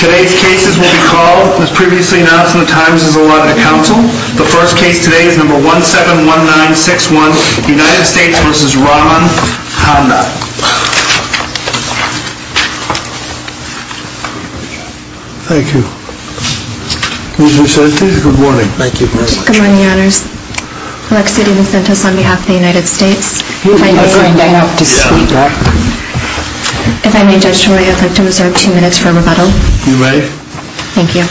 Today's cases will be called, as previously announced in the Times, as a lot of the council. The first case today is number 171961, United States v. Rahman Handa. Thank you. Ms. Vicente, good morning. Thank you very much. Good morning, your honors. Alexia de Vicente is on behalf of the United States. If I may, Judge Trelao, I'd like to reserve two minutes for rebuttal. You may. Thank you.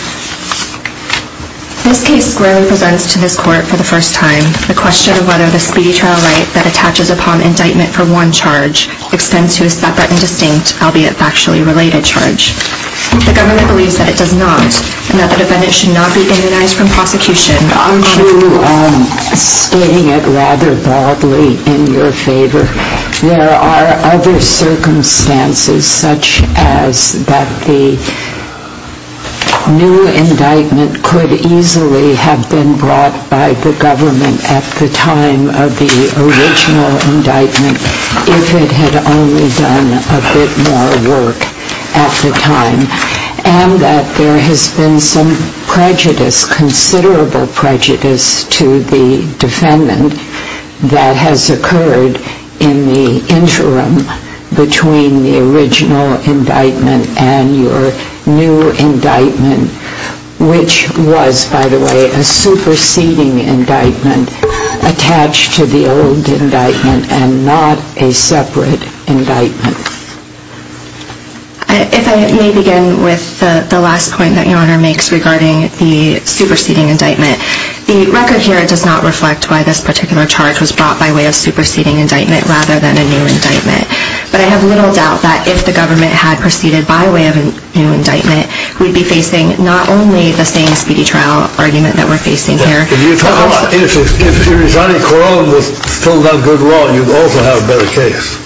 This case squarely presents to this court for the first time the question of whether the speedy trial right that attaches upon indictment for one charge extends to a separate and distinct, albeit factually related, charge. The government believes that it does not, and that it should not be banalized from prosecution. I'm stating it rather broadly in your favor. There are other circumstances such as that the new indictment could easily have been brought by the government at the time of the original indictment if it had only done a bit more work at the time, and that there has been some prejudice, considerable prejudice, to the defendant that has occurred in the interim between the original indictment and your new indictment, which was, by the way, a superseding indictment attached to the old indictment and not a separate indictment. If I may begin with the last point that Your Honor makes regarding the superseding indictment. The record here does not reflect why this particular charge was brought by way of superseding indictment rather than a new indictment. But I have little doubt that if the government had proceeded by way of a new indictment, we'd be facing not only the same speedy trial argument that we're facing here. If Arizari-Colón had filled out good law, you'd also have a better case.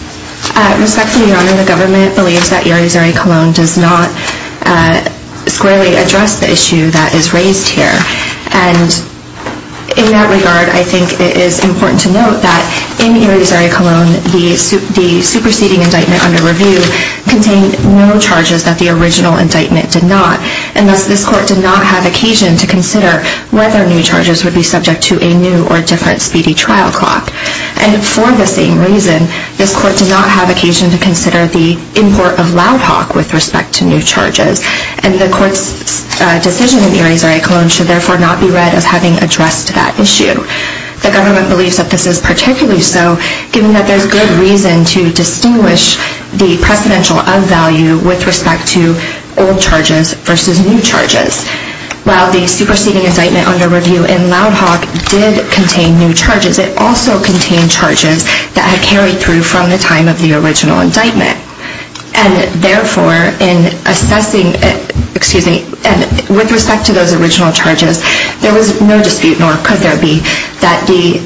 Respectfully, Your Honor, the government believes that Arizari-Colón does not squarely address the issue that is raised here. In that regard, I think it is important to note that in Arizari-Colón, the superseding indictment under review contained no charges that the original indictment did not. And thus, this Court did not have occasion to consider whether new charges would be subject to a new or different speedy trial clock. And for the same reason, this Court did not have occasion to consider the import of loud talk with respect to new charges. And the Court's decision in Arizari-Colón should therefore not be read as having addressed that issue. The government believes that this is particularly so, given that there's good reason to distinguish the precedential of value with respect to old charges versus new charges. While the superseding indictment under review in loud talk did contain new charges, it also contained charges that had carried through from the time of the original indictment. And therefore, with respect to those original charges, there was no dispute, nor could there be, that the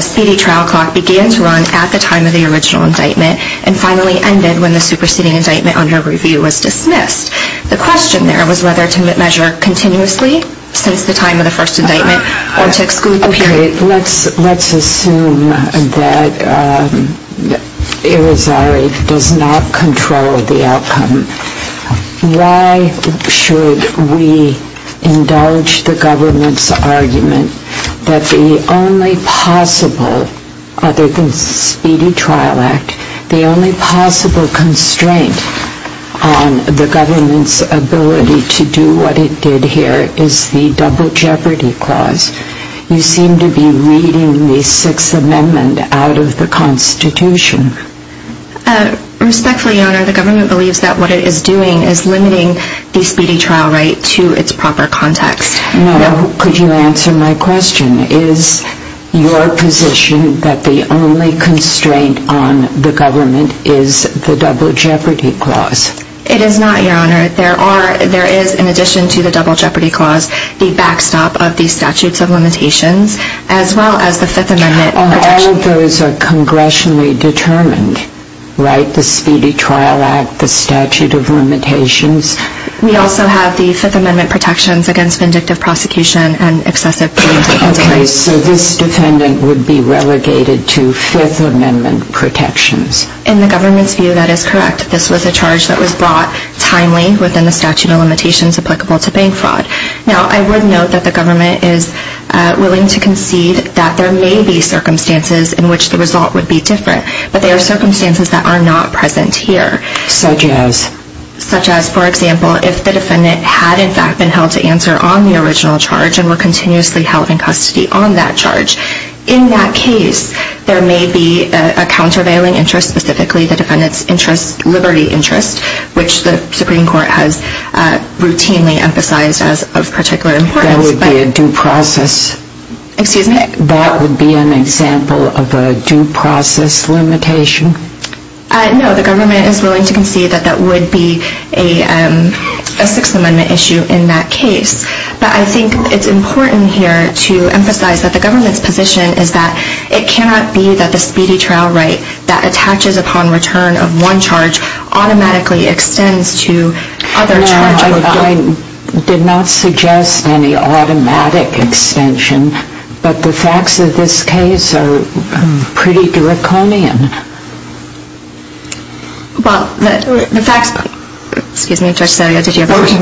speedy trial clock began to run at the time of the original indictment and finally ended when the superseding indictment under review was dismissed. The question there was whether to measure continuously since the time of the first indictment or to exclude the period. Let's assume that Arizari does not control the outcome. Why should we indulge the government's argument that the only possible, other than speedy trial act, the only possible constraint on the government's ability to do what it did here is the double jeopardy clause? You seem to be reading the Sixth Amendment out of the Constitution. Respectfully, Your Honor, the government believes that what it is doing is limiting the speedy trial right to its proper context. Now, could you answer my question? Is your position that the only constraint on the government is the double jeopardy clause? It is not, Your Honor. There is, in addition to the double jeopardy clause, the backstop of the statutes of limitations as well as the Fifth Amendment protections. All of those are congressionally determined, right? The speedy trial act, the statute of limitations. We also have the Fifth Amendment protections against vindictive prosecution and excessive punitive indictment. Okay, so this defendant would be relegated to Fifth Amendment protections. In the government's view, that is correct. This was a charge that was brought timely within the statute of limitations applicable to bank fraud. Now, I would note that the government is willing to concede that there may be circumstances in which the result would be different. But there are circumstances that are not present here. Such as? Such as, for example, if the defendant had in fact been held to answer on the original charge and were continuously held in custody on that charge. In that case, there may be a countervailing interest, specifically the defendant's liberty interest, which the Supreme Court has routinely emphasized as of particular importance. That would be a due process? Excuse me? That would be an example of a due process limitation? No, the government is willing to concede that that would be a Sixth Amendment issue in that case. But I think it's important here to emphasize that the government's position is that it cannot be that the speedy trial right that attaches upon return of one charge automatically extends to other charges. I did not suggest any automatic extension, but the facts of this case are pretty draconian. Well, the facts, excuse me, Judge Salio, did you have a question?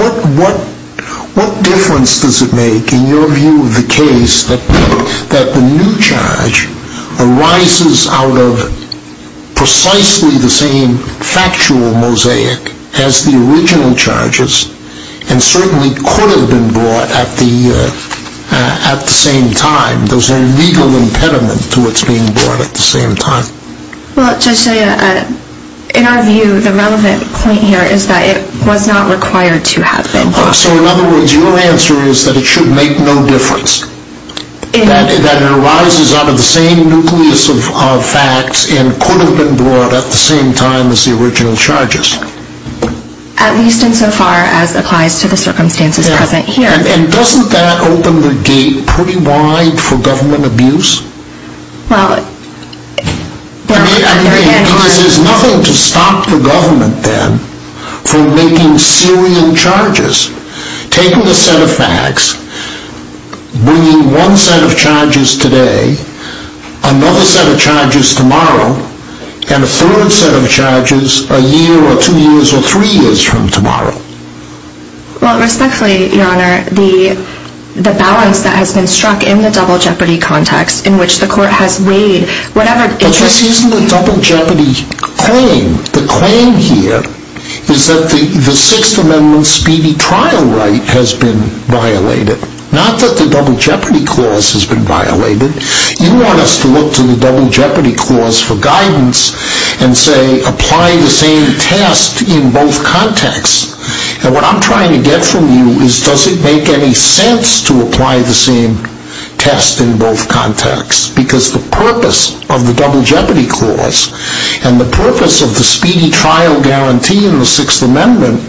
What difference does it make in your view of the case that the new charge arises out of precisely the same factual mosaic as the original charges and certainly could have been brought at the same time? Does there a legal impediment to its being brought at the same time? Well, Judge Salio, in our view, the relevant point here is that it was not required to have been brought. So in other words, your answer is that it should make no difference? That it arises out of the same nucleus of facts and could have been brought at the same time as the original charges? At least insofar as applies to the circumstances present here. And doesn't that open the gate pretty wide for government abuse? Because there's nothing to stop the government then from making Syrian charges. Taking a set of facts, bringing one set of charges today, another set of charges tomorrow, and a third set of charges a year or two years or three years from tomorrow. Well, respectfully, Your Honor, the balance that has been struck in the double jeopardy context in which the court has weighed whatever interest... But this isn't a double jeopardy claim. The claim here is that the Sixth Amendment speedy trial right has been violated. Not that the double jeopardy clause has been violated. You want us to look to the double jeopardy clause for guidance and say apply the same test in both contexts. And what I'm trying to get from you is does it make any sense to apply the same test in both contexts? Because the purpose of the double jeopardy clause and the purpose of the speedy trial guarantee in the Sixth Amendment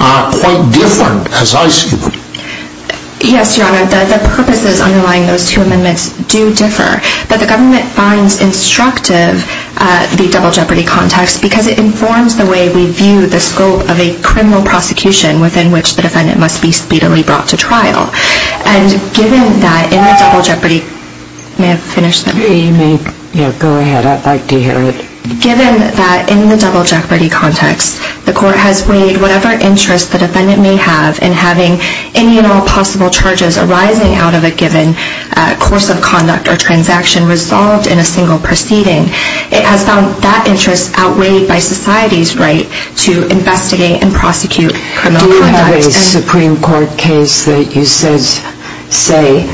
are quite different as I see them. Yes, Your Honor, the purposes underlying those two amendments do differ. But the government finds instructive the double jeopardy context because it informs the way we view the scope of a criminal prosecution within which the defendant must be speedily brought to trial. And given that in the double jeopardy... May I finish? Yeah, go ahead. I'd like to hear it. Given that in the double jeopardy context, the court has weighed whatever interest the defendant may have in having any and all possible charges arising out of a given course of conduct or transaction resolved in a single proceeding. It has found that interest outweighed by society's right to investigate and prosecute criminal conduct. Do you have a Supreme Court case that you say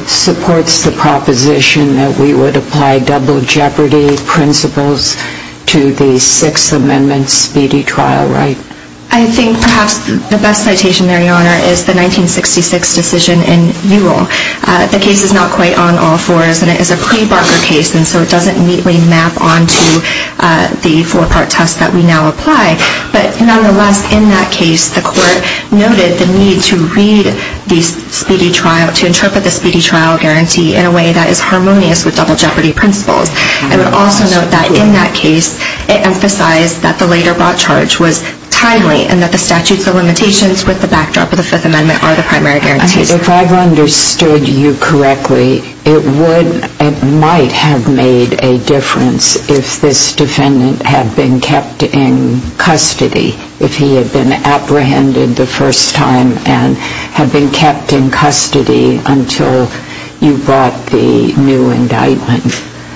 supports the proposition that we would apply double jeopardy principles to the Sixth Amendment speedy trial right? I think perhaps the best citation there, Your Honor, is the 1966 decision in Newell. The case is not quite on all fours and it is a pre-Barker case and so it doesn't neatly map onto the four-part test that we now apply. But nonetheless, in that case, the court noted the need to read the speedy trial, to interpret the speedy trial guarantee in a way that is harmonious with double jeopardy principles. I would also note that in that case, it emphasized that the later brought charge was timely and that the statutes of limitations with the backdrop of the Fifth Amendment are the primary guarantees. If I've understood you correctly, it might have made a difference if this defendant had been kept in custody, if he had been apprehended the first time and had been kept in custody until you brought the new indictment.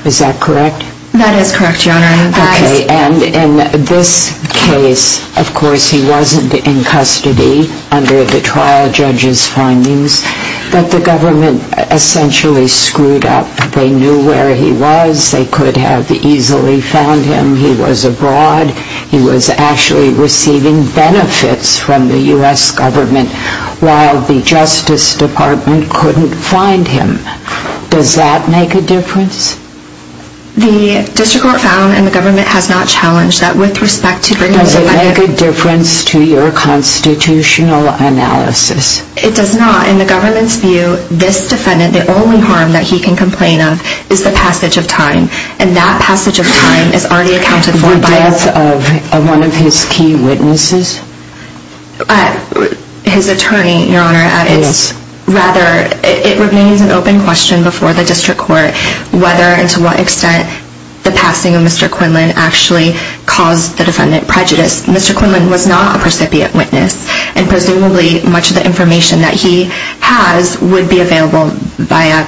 Is that correct? That is correct, Your Honor. Okay, and in this case, of course he wasn't in custody under the trial judge's findings, but the government essentially screwed up. They knew where he was, they could have easily found him. He was abroad, he was actually receiving benefits from the U.S. government while the Justice Department couldn't find him. Does that make a difference? The district court found and the government has not challenged that with respect to... Does it make a difference to your constitutional analysis? It does not. In the government's view, this defendant, the only harm that he can complain of is the passage of time, and that passage of time is already accounted for by... The death of one of his key witnesses? His attorney, Your Honor. Yes. And rather, it remains an open question before the district court whether and to what extent the passing of Mr. Quinlan actually caused the defendant prejudice. Mr. Quinlan was not a precipient witness, and presumably much of the information that he has would be available by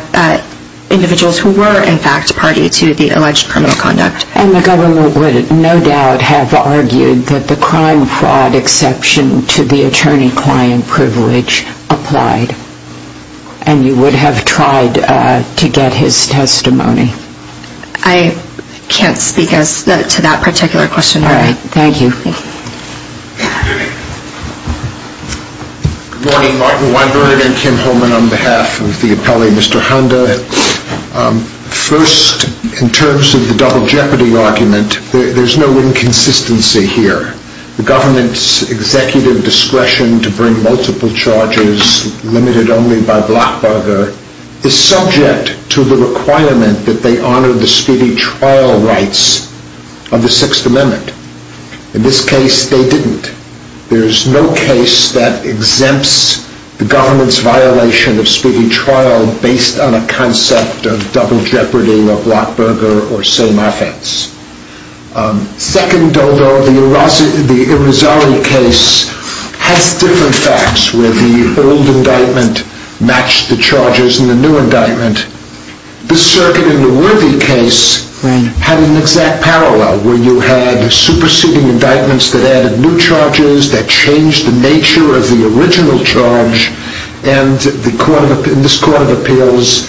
individuals who were in fact party to the alleged criminal conduct. And the government would no doubt have argued that the crime fraud exception to the attorney-client privilege applied, and you would have tried to get his testimony. I can't speak to that particular question, Your Honor. All right. Thank you. Good morning. Martin Weinberg and Kim Holman on behalf of the appellee, Mr. Honda. First, in terms of the double jeopardy argument, there's no inconsistency here. The government's executive discretion to bring multiple charges limited only by Blockberger is subject to the requirement that they honor the speedy trial rights of the Sixth Amendment. In this case, they didn't. There's no case that exempts the government's violation of speedy trial based on a concept of double jeopardy or Blockberger or same offense. Second, though, the Irizarry case has different facts where the old indictment matched the charges in the new indictment. The circuit in the Worthy case had an exact parallel where you had superseding indictments that added new charges, that changed the nature of the original charge, and this court of appeals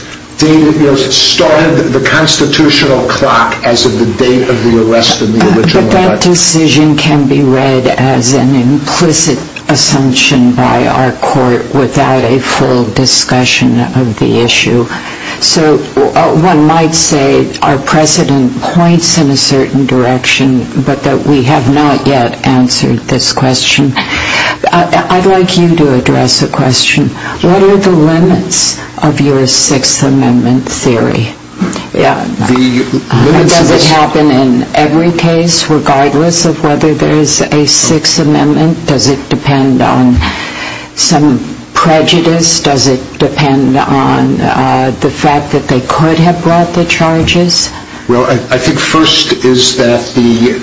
started the constitutional clock as of the date of the arrest in the original indictment. But that decision can be read as an implicit assumption by our court without a full discussion of the issue. So one might say our precedent points in a certain direction, but that we have not yet answered this question. I'd like you to address a question. What are the limits of your Sixth Amendment theory? Does it happen in every case regardless of whether there is a Sixth Amendment? Does it depend on some prejudice? Does it depend on the fact that they could have brought the charges? Well, I think first is that the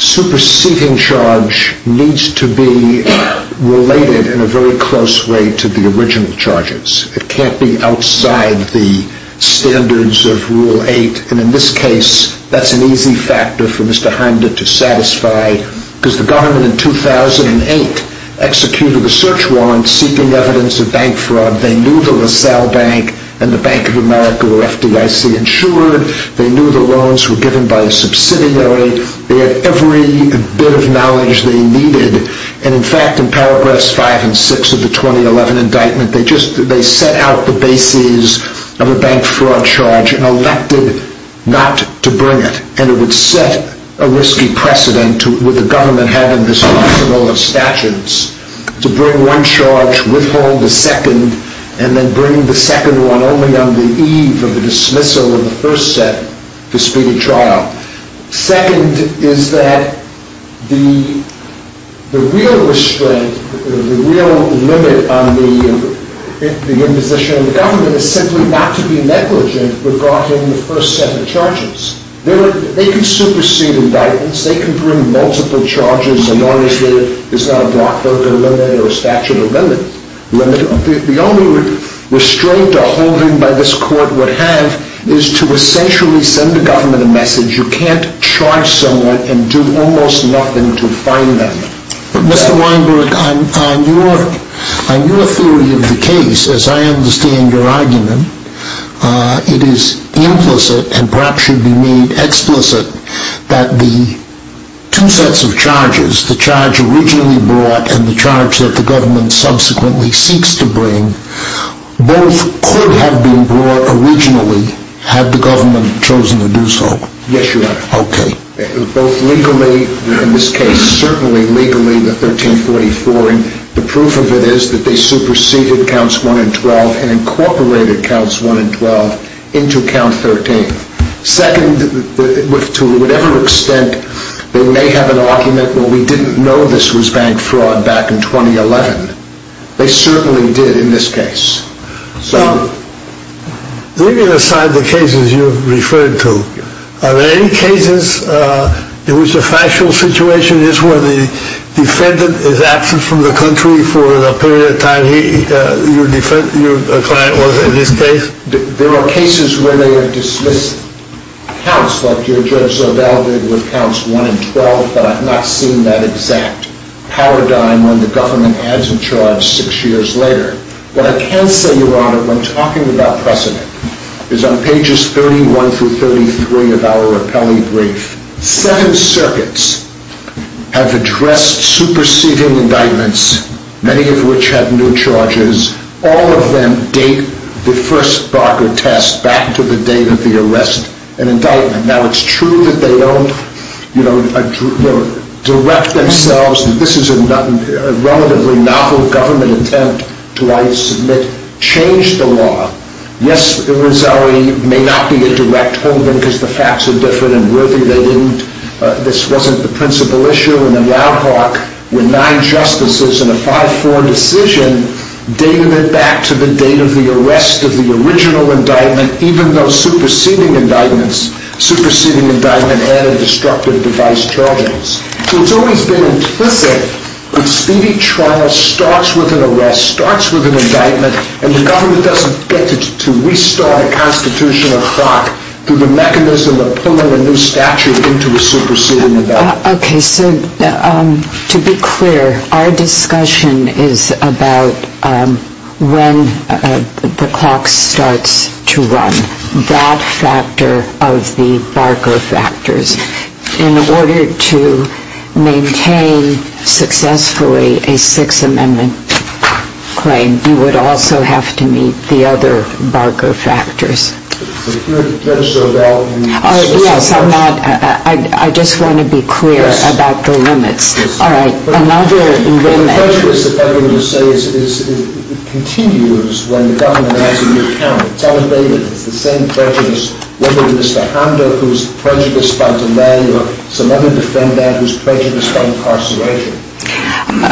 superseding charge needs to be related in a very close way to the original charges. It can't be outside the standards of Rule 8, and in this case that's an easy factor for Mr. Hinder to satisfy because the government in 2008 executed a search warrant seeking evidence of bank fraud. They knew the LaSalle Bank and the Bank of America were FDIC insured. They knew the loans were given by a subsidiary. They had every bit of knowledge they needed, and in fact in paragraphs 5 and 6 of the 2011 indictment they set out the bases of a bank fraud charge and elected not to bring it. And it would set a risky precedent with the government having this arsenal of statutes to bring one charge, withhold the second, and then bring the second one only on the eve of the dismissal of the first set to speed a trial. Second is that the real limit on the imposition of the government is simply not to be negligent regarding the first set of charges. They can supersede indictments. They can bring multiple charges as long as there is not a block book or statute or limit. The only restraint a holding by this court would have is to essentially send the government a message you can't charge someone and do almost nothing to fine them. Mr. Weinberg, on your theory of the case, as I understand your argument, it is implicit and perhaps should be made explicit that the two sets of charges, the charge originally brought and the charge that the government subsequently seeks to bring, both could have been brought originally had the government chosen to do so. Yes, Your Honor. Okay. Both legally, in this case certainly legally, the 1344, and the proof of it is that they superseded counts 1 and 12 and incorporated counts 1 and 12 into count 13. Second, to whatever extent they may have an argument, well, we didn't know this was bank fraud back in 2011. They certainly did in this case. So, leaving aside the cases you referred to, are there any cases in which the factual situation is where the defendant is absent from the country for a period of time, and your client was in this case? There are cases where they have dismissed counts, like your Judge Zobel did, with counts 1 and 12, but I've not seen that exact paradigm when the government adds a charge six years later. What I can say, Your Honor, when talking about precedent, is on pages 31 through 33 of our rappelling brief, seven circuits have addressed superseding indictments, many of which have new charges. All of them date the first Barker test back to the date of the arrest and indictment. Now, it's true that they don't direct themselves. This is a relatively novel government attempt to, I submit, change the law. Yes, irresolutely, it may not be a direct hold-in because the facts are different and worthy. This wasn't the principal issue. When nine justices in a 5-4 decision dated it back to the date of the arrest of the original indictment, even though superseding indictments added destructive device charges. So it's always been implicit that speedy trial starts with an arrest, starts with an indictment, and the government doesn't get to restart a constitutional clock through the mechanism of pulling a new statute into a superseding indictment. Okay, so to be clear, our discussion is about when the clock starts to run, that factor of the Barker factors. In order to maintain successfully a Sixth Amendment claim, you would also have to meet the other Barker factors. So you're not going to show that? Yes, I'm not. I just want to be clear about the limits. All right, another limit. The prejudice that everyone will say continues when the government adds a new count. It's elevated. It's the same prejudice. Whether it's Mr. Hamda who's prejudiced by delay or some other defendant who's prejudiced by incarceration.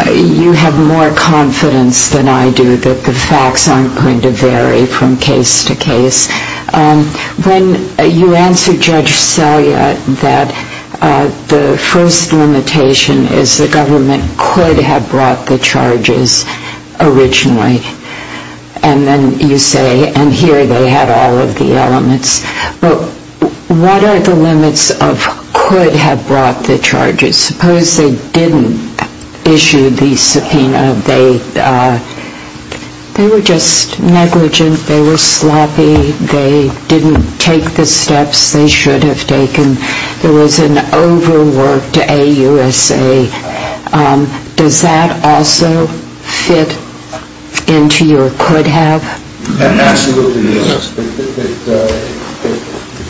You have more confidence than I do that the facts aren't going to vary from case to case. When you answer Judge Selya that the first limitation is the government could have brought the charges originally, and then you say, and here they have all of the elements. But what are the limits of could have brought the charges? Suppose they didn't issue the subpoena. They were just negligent. They were sloppy. They didn't take the steps they should have taken. There was an overworked AUSA. Does that also fit into your could have? Absolutely, yes.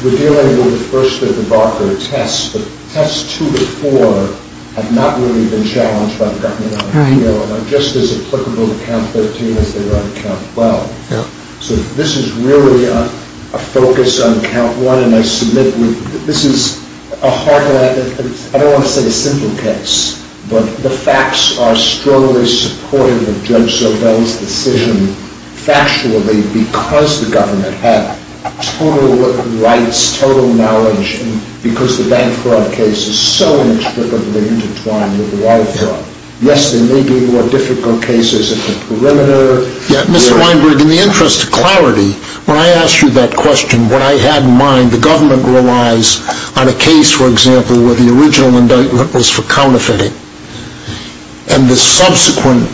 We're dealing with the first of the Barker tests. The tests two to four have not really been challenged by the government. They're just as applicable to count 13 as they were on count 12. So this is really a focus on count one, and I submit this is a hard one. I don't want to say a simple case, but the facts are strongly supportive of Judge Sobel's decision factually because the government had total rights, total knowledge, and because the bank fraud case is so intricately intertwined with the wide fraud. Yes, there may be more difficult cases at the perimeter. Mr. Weinberg, in the interest of clarity, when I asked you that question, what I had in mind, the government relies on a case, for example, where the original indictment was for counterfeiting, and the subsequent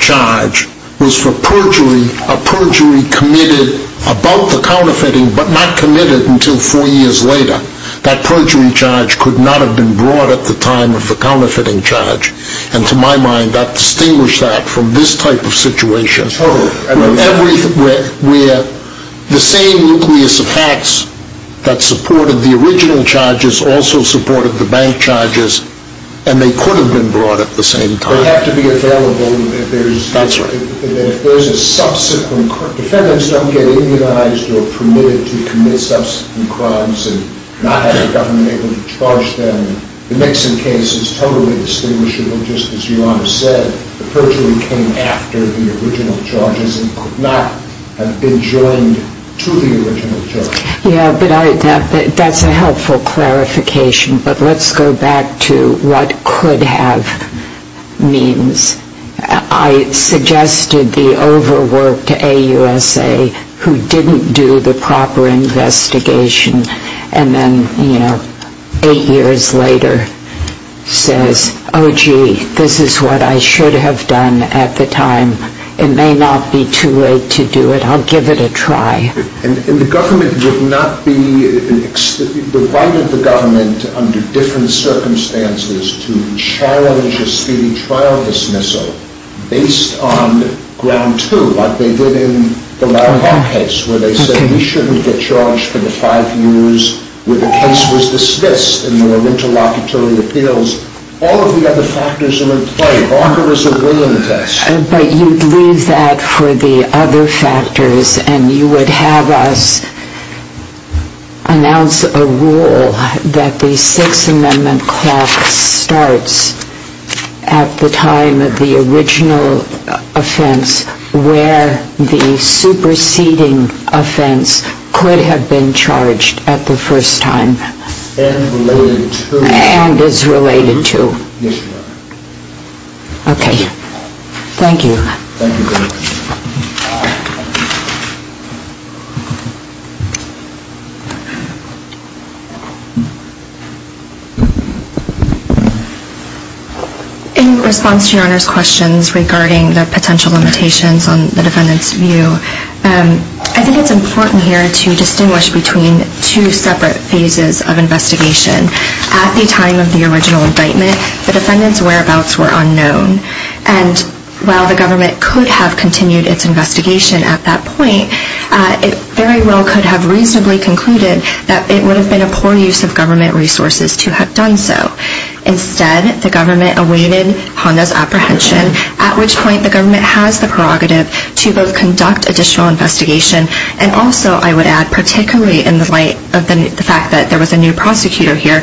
charge was for perjury, a perjury committed about the counterfeiting, but not committed until four years later. That perjury charge could not have been brought at the time of the counterfeiting charge, and to my mind that distinguished that from this type of situation, where the same nucleus of facts that supported the original charges also supported the bank charges, and they could have been brought at the same time. They have to be available if there's a subsequent... Defendants don't get immunized or permitted to commit subsequent crimes and not have the government able to charge them. The Nixon case is totally distinguishable, just as Your Honor said. The perjury came after the original charges and could not have been joined to the original charges. Yes, but that's a helpful clarification, but let's go back to what could have means. I suggested the overwork to AUSA, who didn't do the proper investigation, and then, you know, eight years later says, oh gee, this is what I should have done at the time. It may not be too late to do it. I'll give it a try. And the government would not be... The right of the government, under different circumstances, to challenge a speedy trial dismissal based on ground two, like they did in the Larry Hawke case, where they said we shouldn't get charged for the five years where the case was dismissed in the interlocutory appeals. All of the other factors are in play. Hawke was a willing test. But you'd leave that for the other factors and you would have us announce a rule that the Sixth Amendment clock starts at the time of the original offense where the superseding offense could have been charged at the first time. And related to... And is related to. Yes, Your Honor. Okay. Thank you. Thank you very much. Thank you. In response to Your Honor's questions regarding the potential limitations on the defendant's view, I think it's important here to distinguish between two separate phases of investigation. At the time of the original indictment, the defendant's whereabouts were unknown. And while the government could have continued its investigation at that point, it very well could have reasonably concluded that it would have been a poor use of government resources to have done so. Instead, the government awaited Honda's apprehension, at which point the government has the prerogative to both conduct additional investigation and also, I would add, particularly in the light of the fact that there was a new prosecutor here,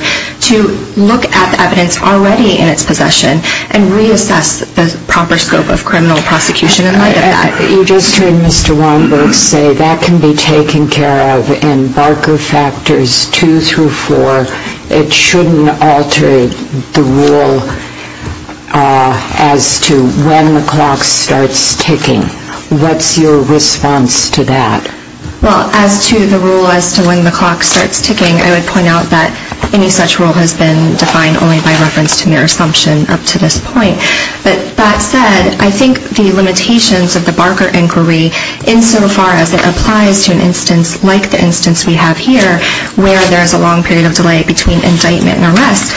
to look at the evidence already in its possession and reassess the proper scope of criminal prosecution in light of that. You just heard Mr. Weinberg say that can be taken care of in Barker factors 2 through 4. It shouldn't alter the rule as to when the clock starts ticking. What's your response to that? Well, as to the rule as to when the clock starts ticking, I would point out that any such rule has been defined only by reference to mere assumption up to this point. But that said, I think the limitations of the Barker inquiry insofar as it applies to an instance like the instance we have here where there is a long period of delay between indictment and arrest,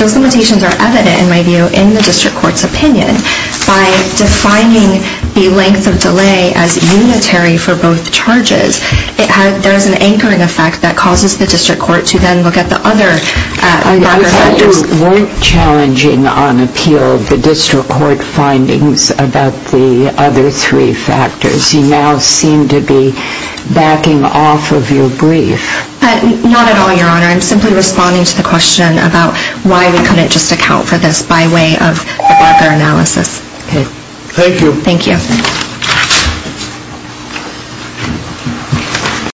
those limitations are evident, in my view, in the district court's opinion. By defining the length of delay as unitary for both charges, there is an anchoring effect that causes the district court to then look at the other Barker factors. You said you weren't challenging on appeal the district court findings about the other three factors. You now seem to be backing off of your brief. Not at all, Your Honor. I'm simply responding to the question about why we couldn't just account for this by way of the Barker analysis. Okay. Thank you. Thank you.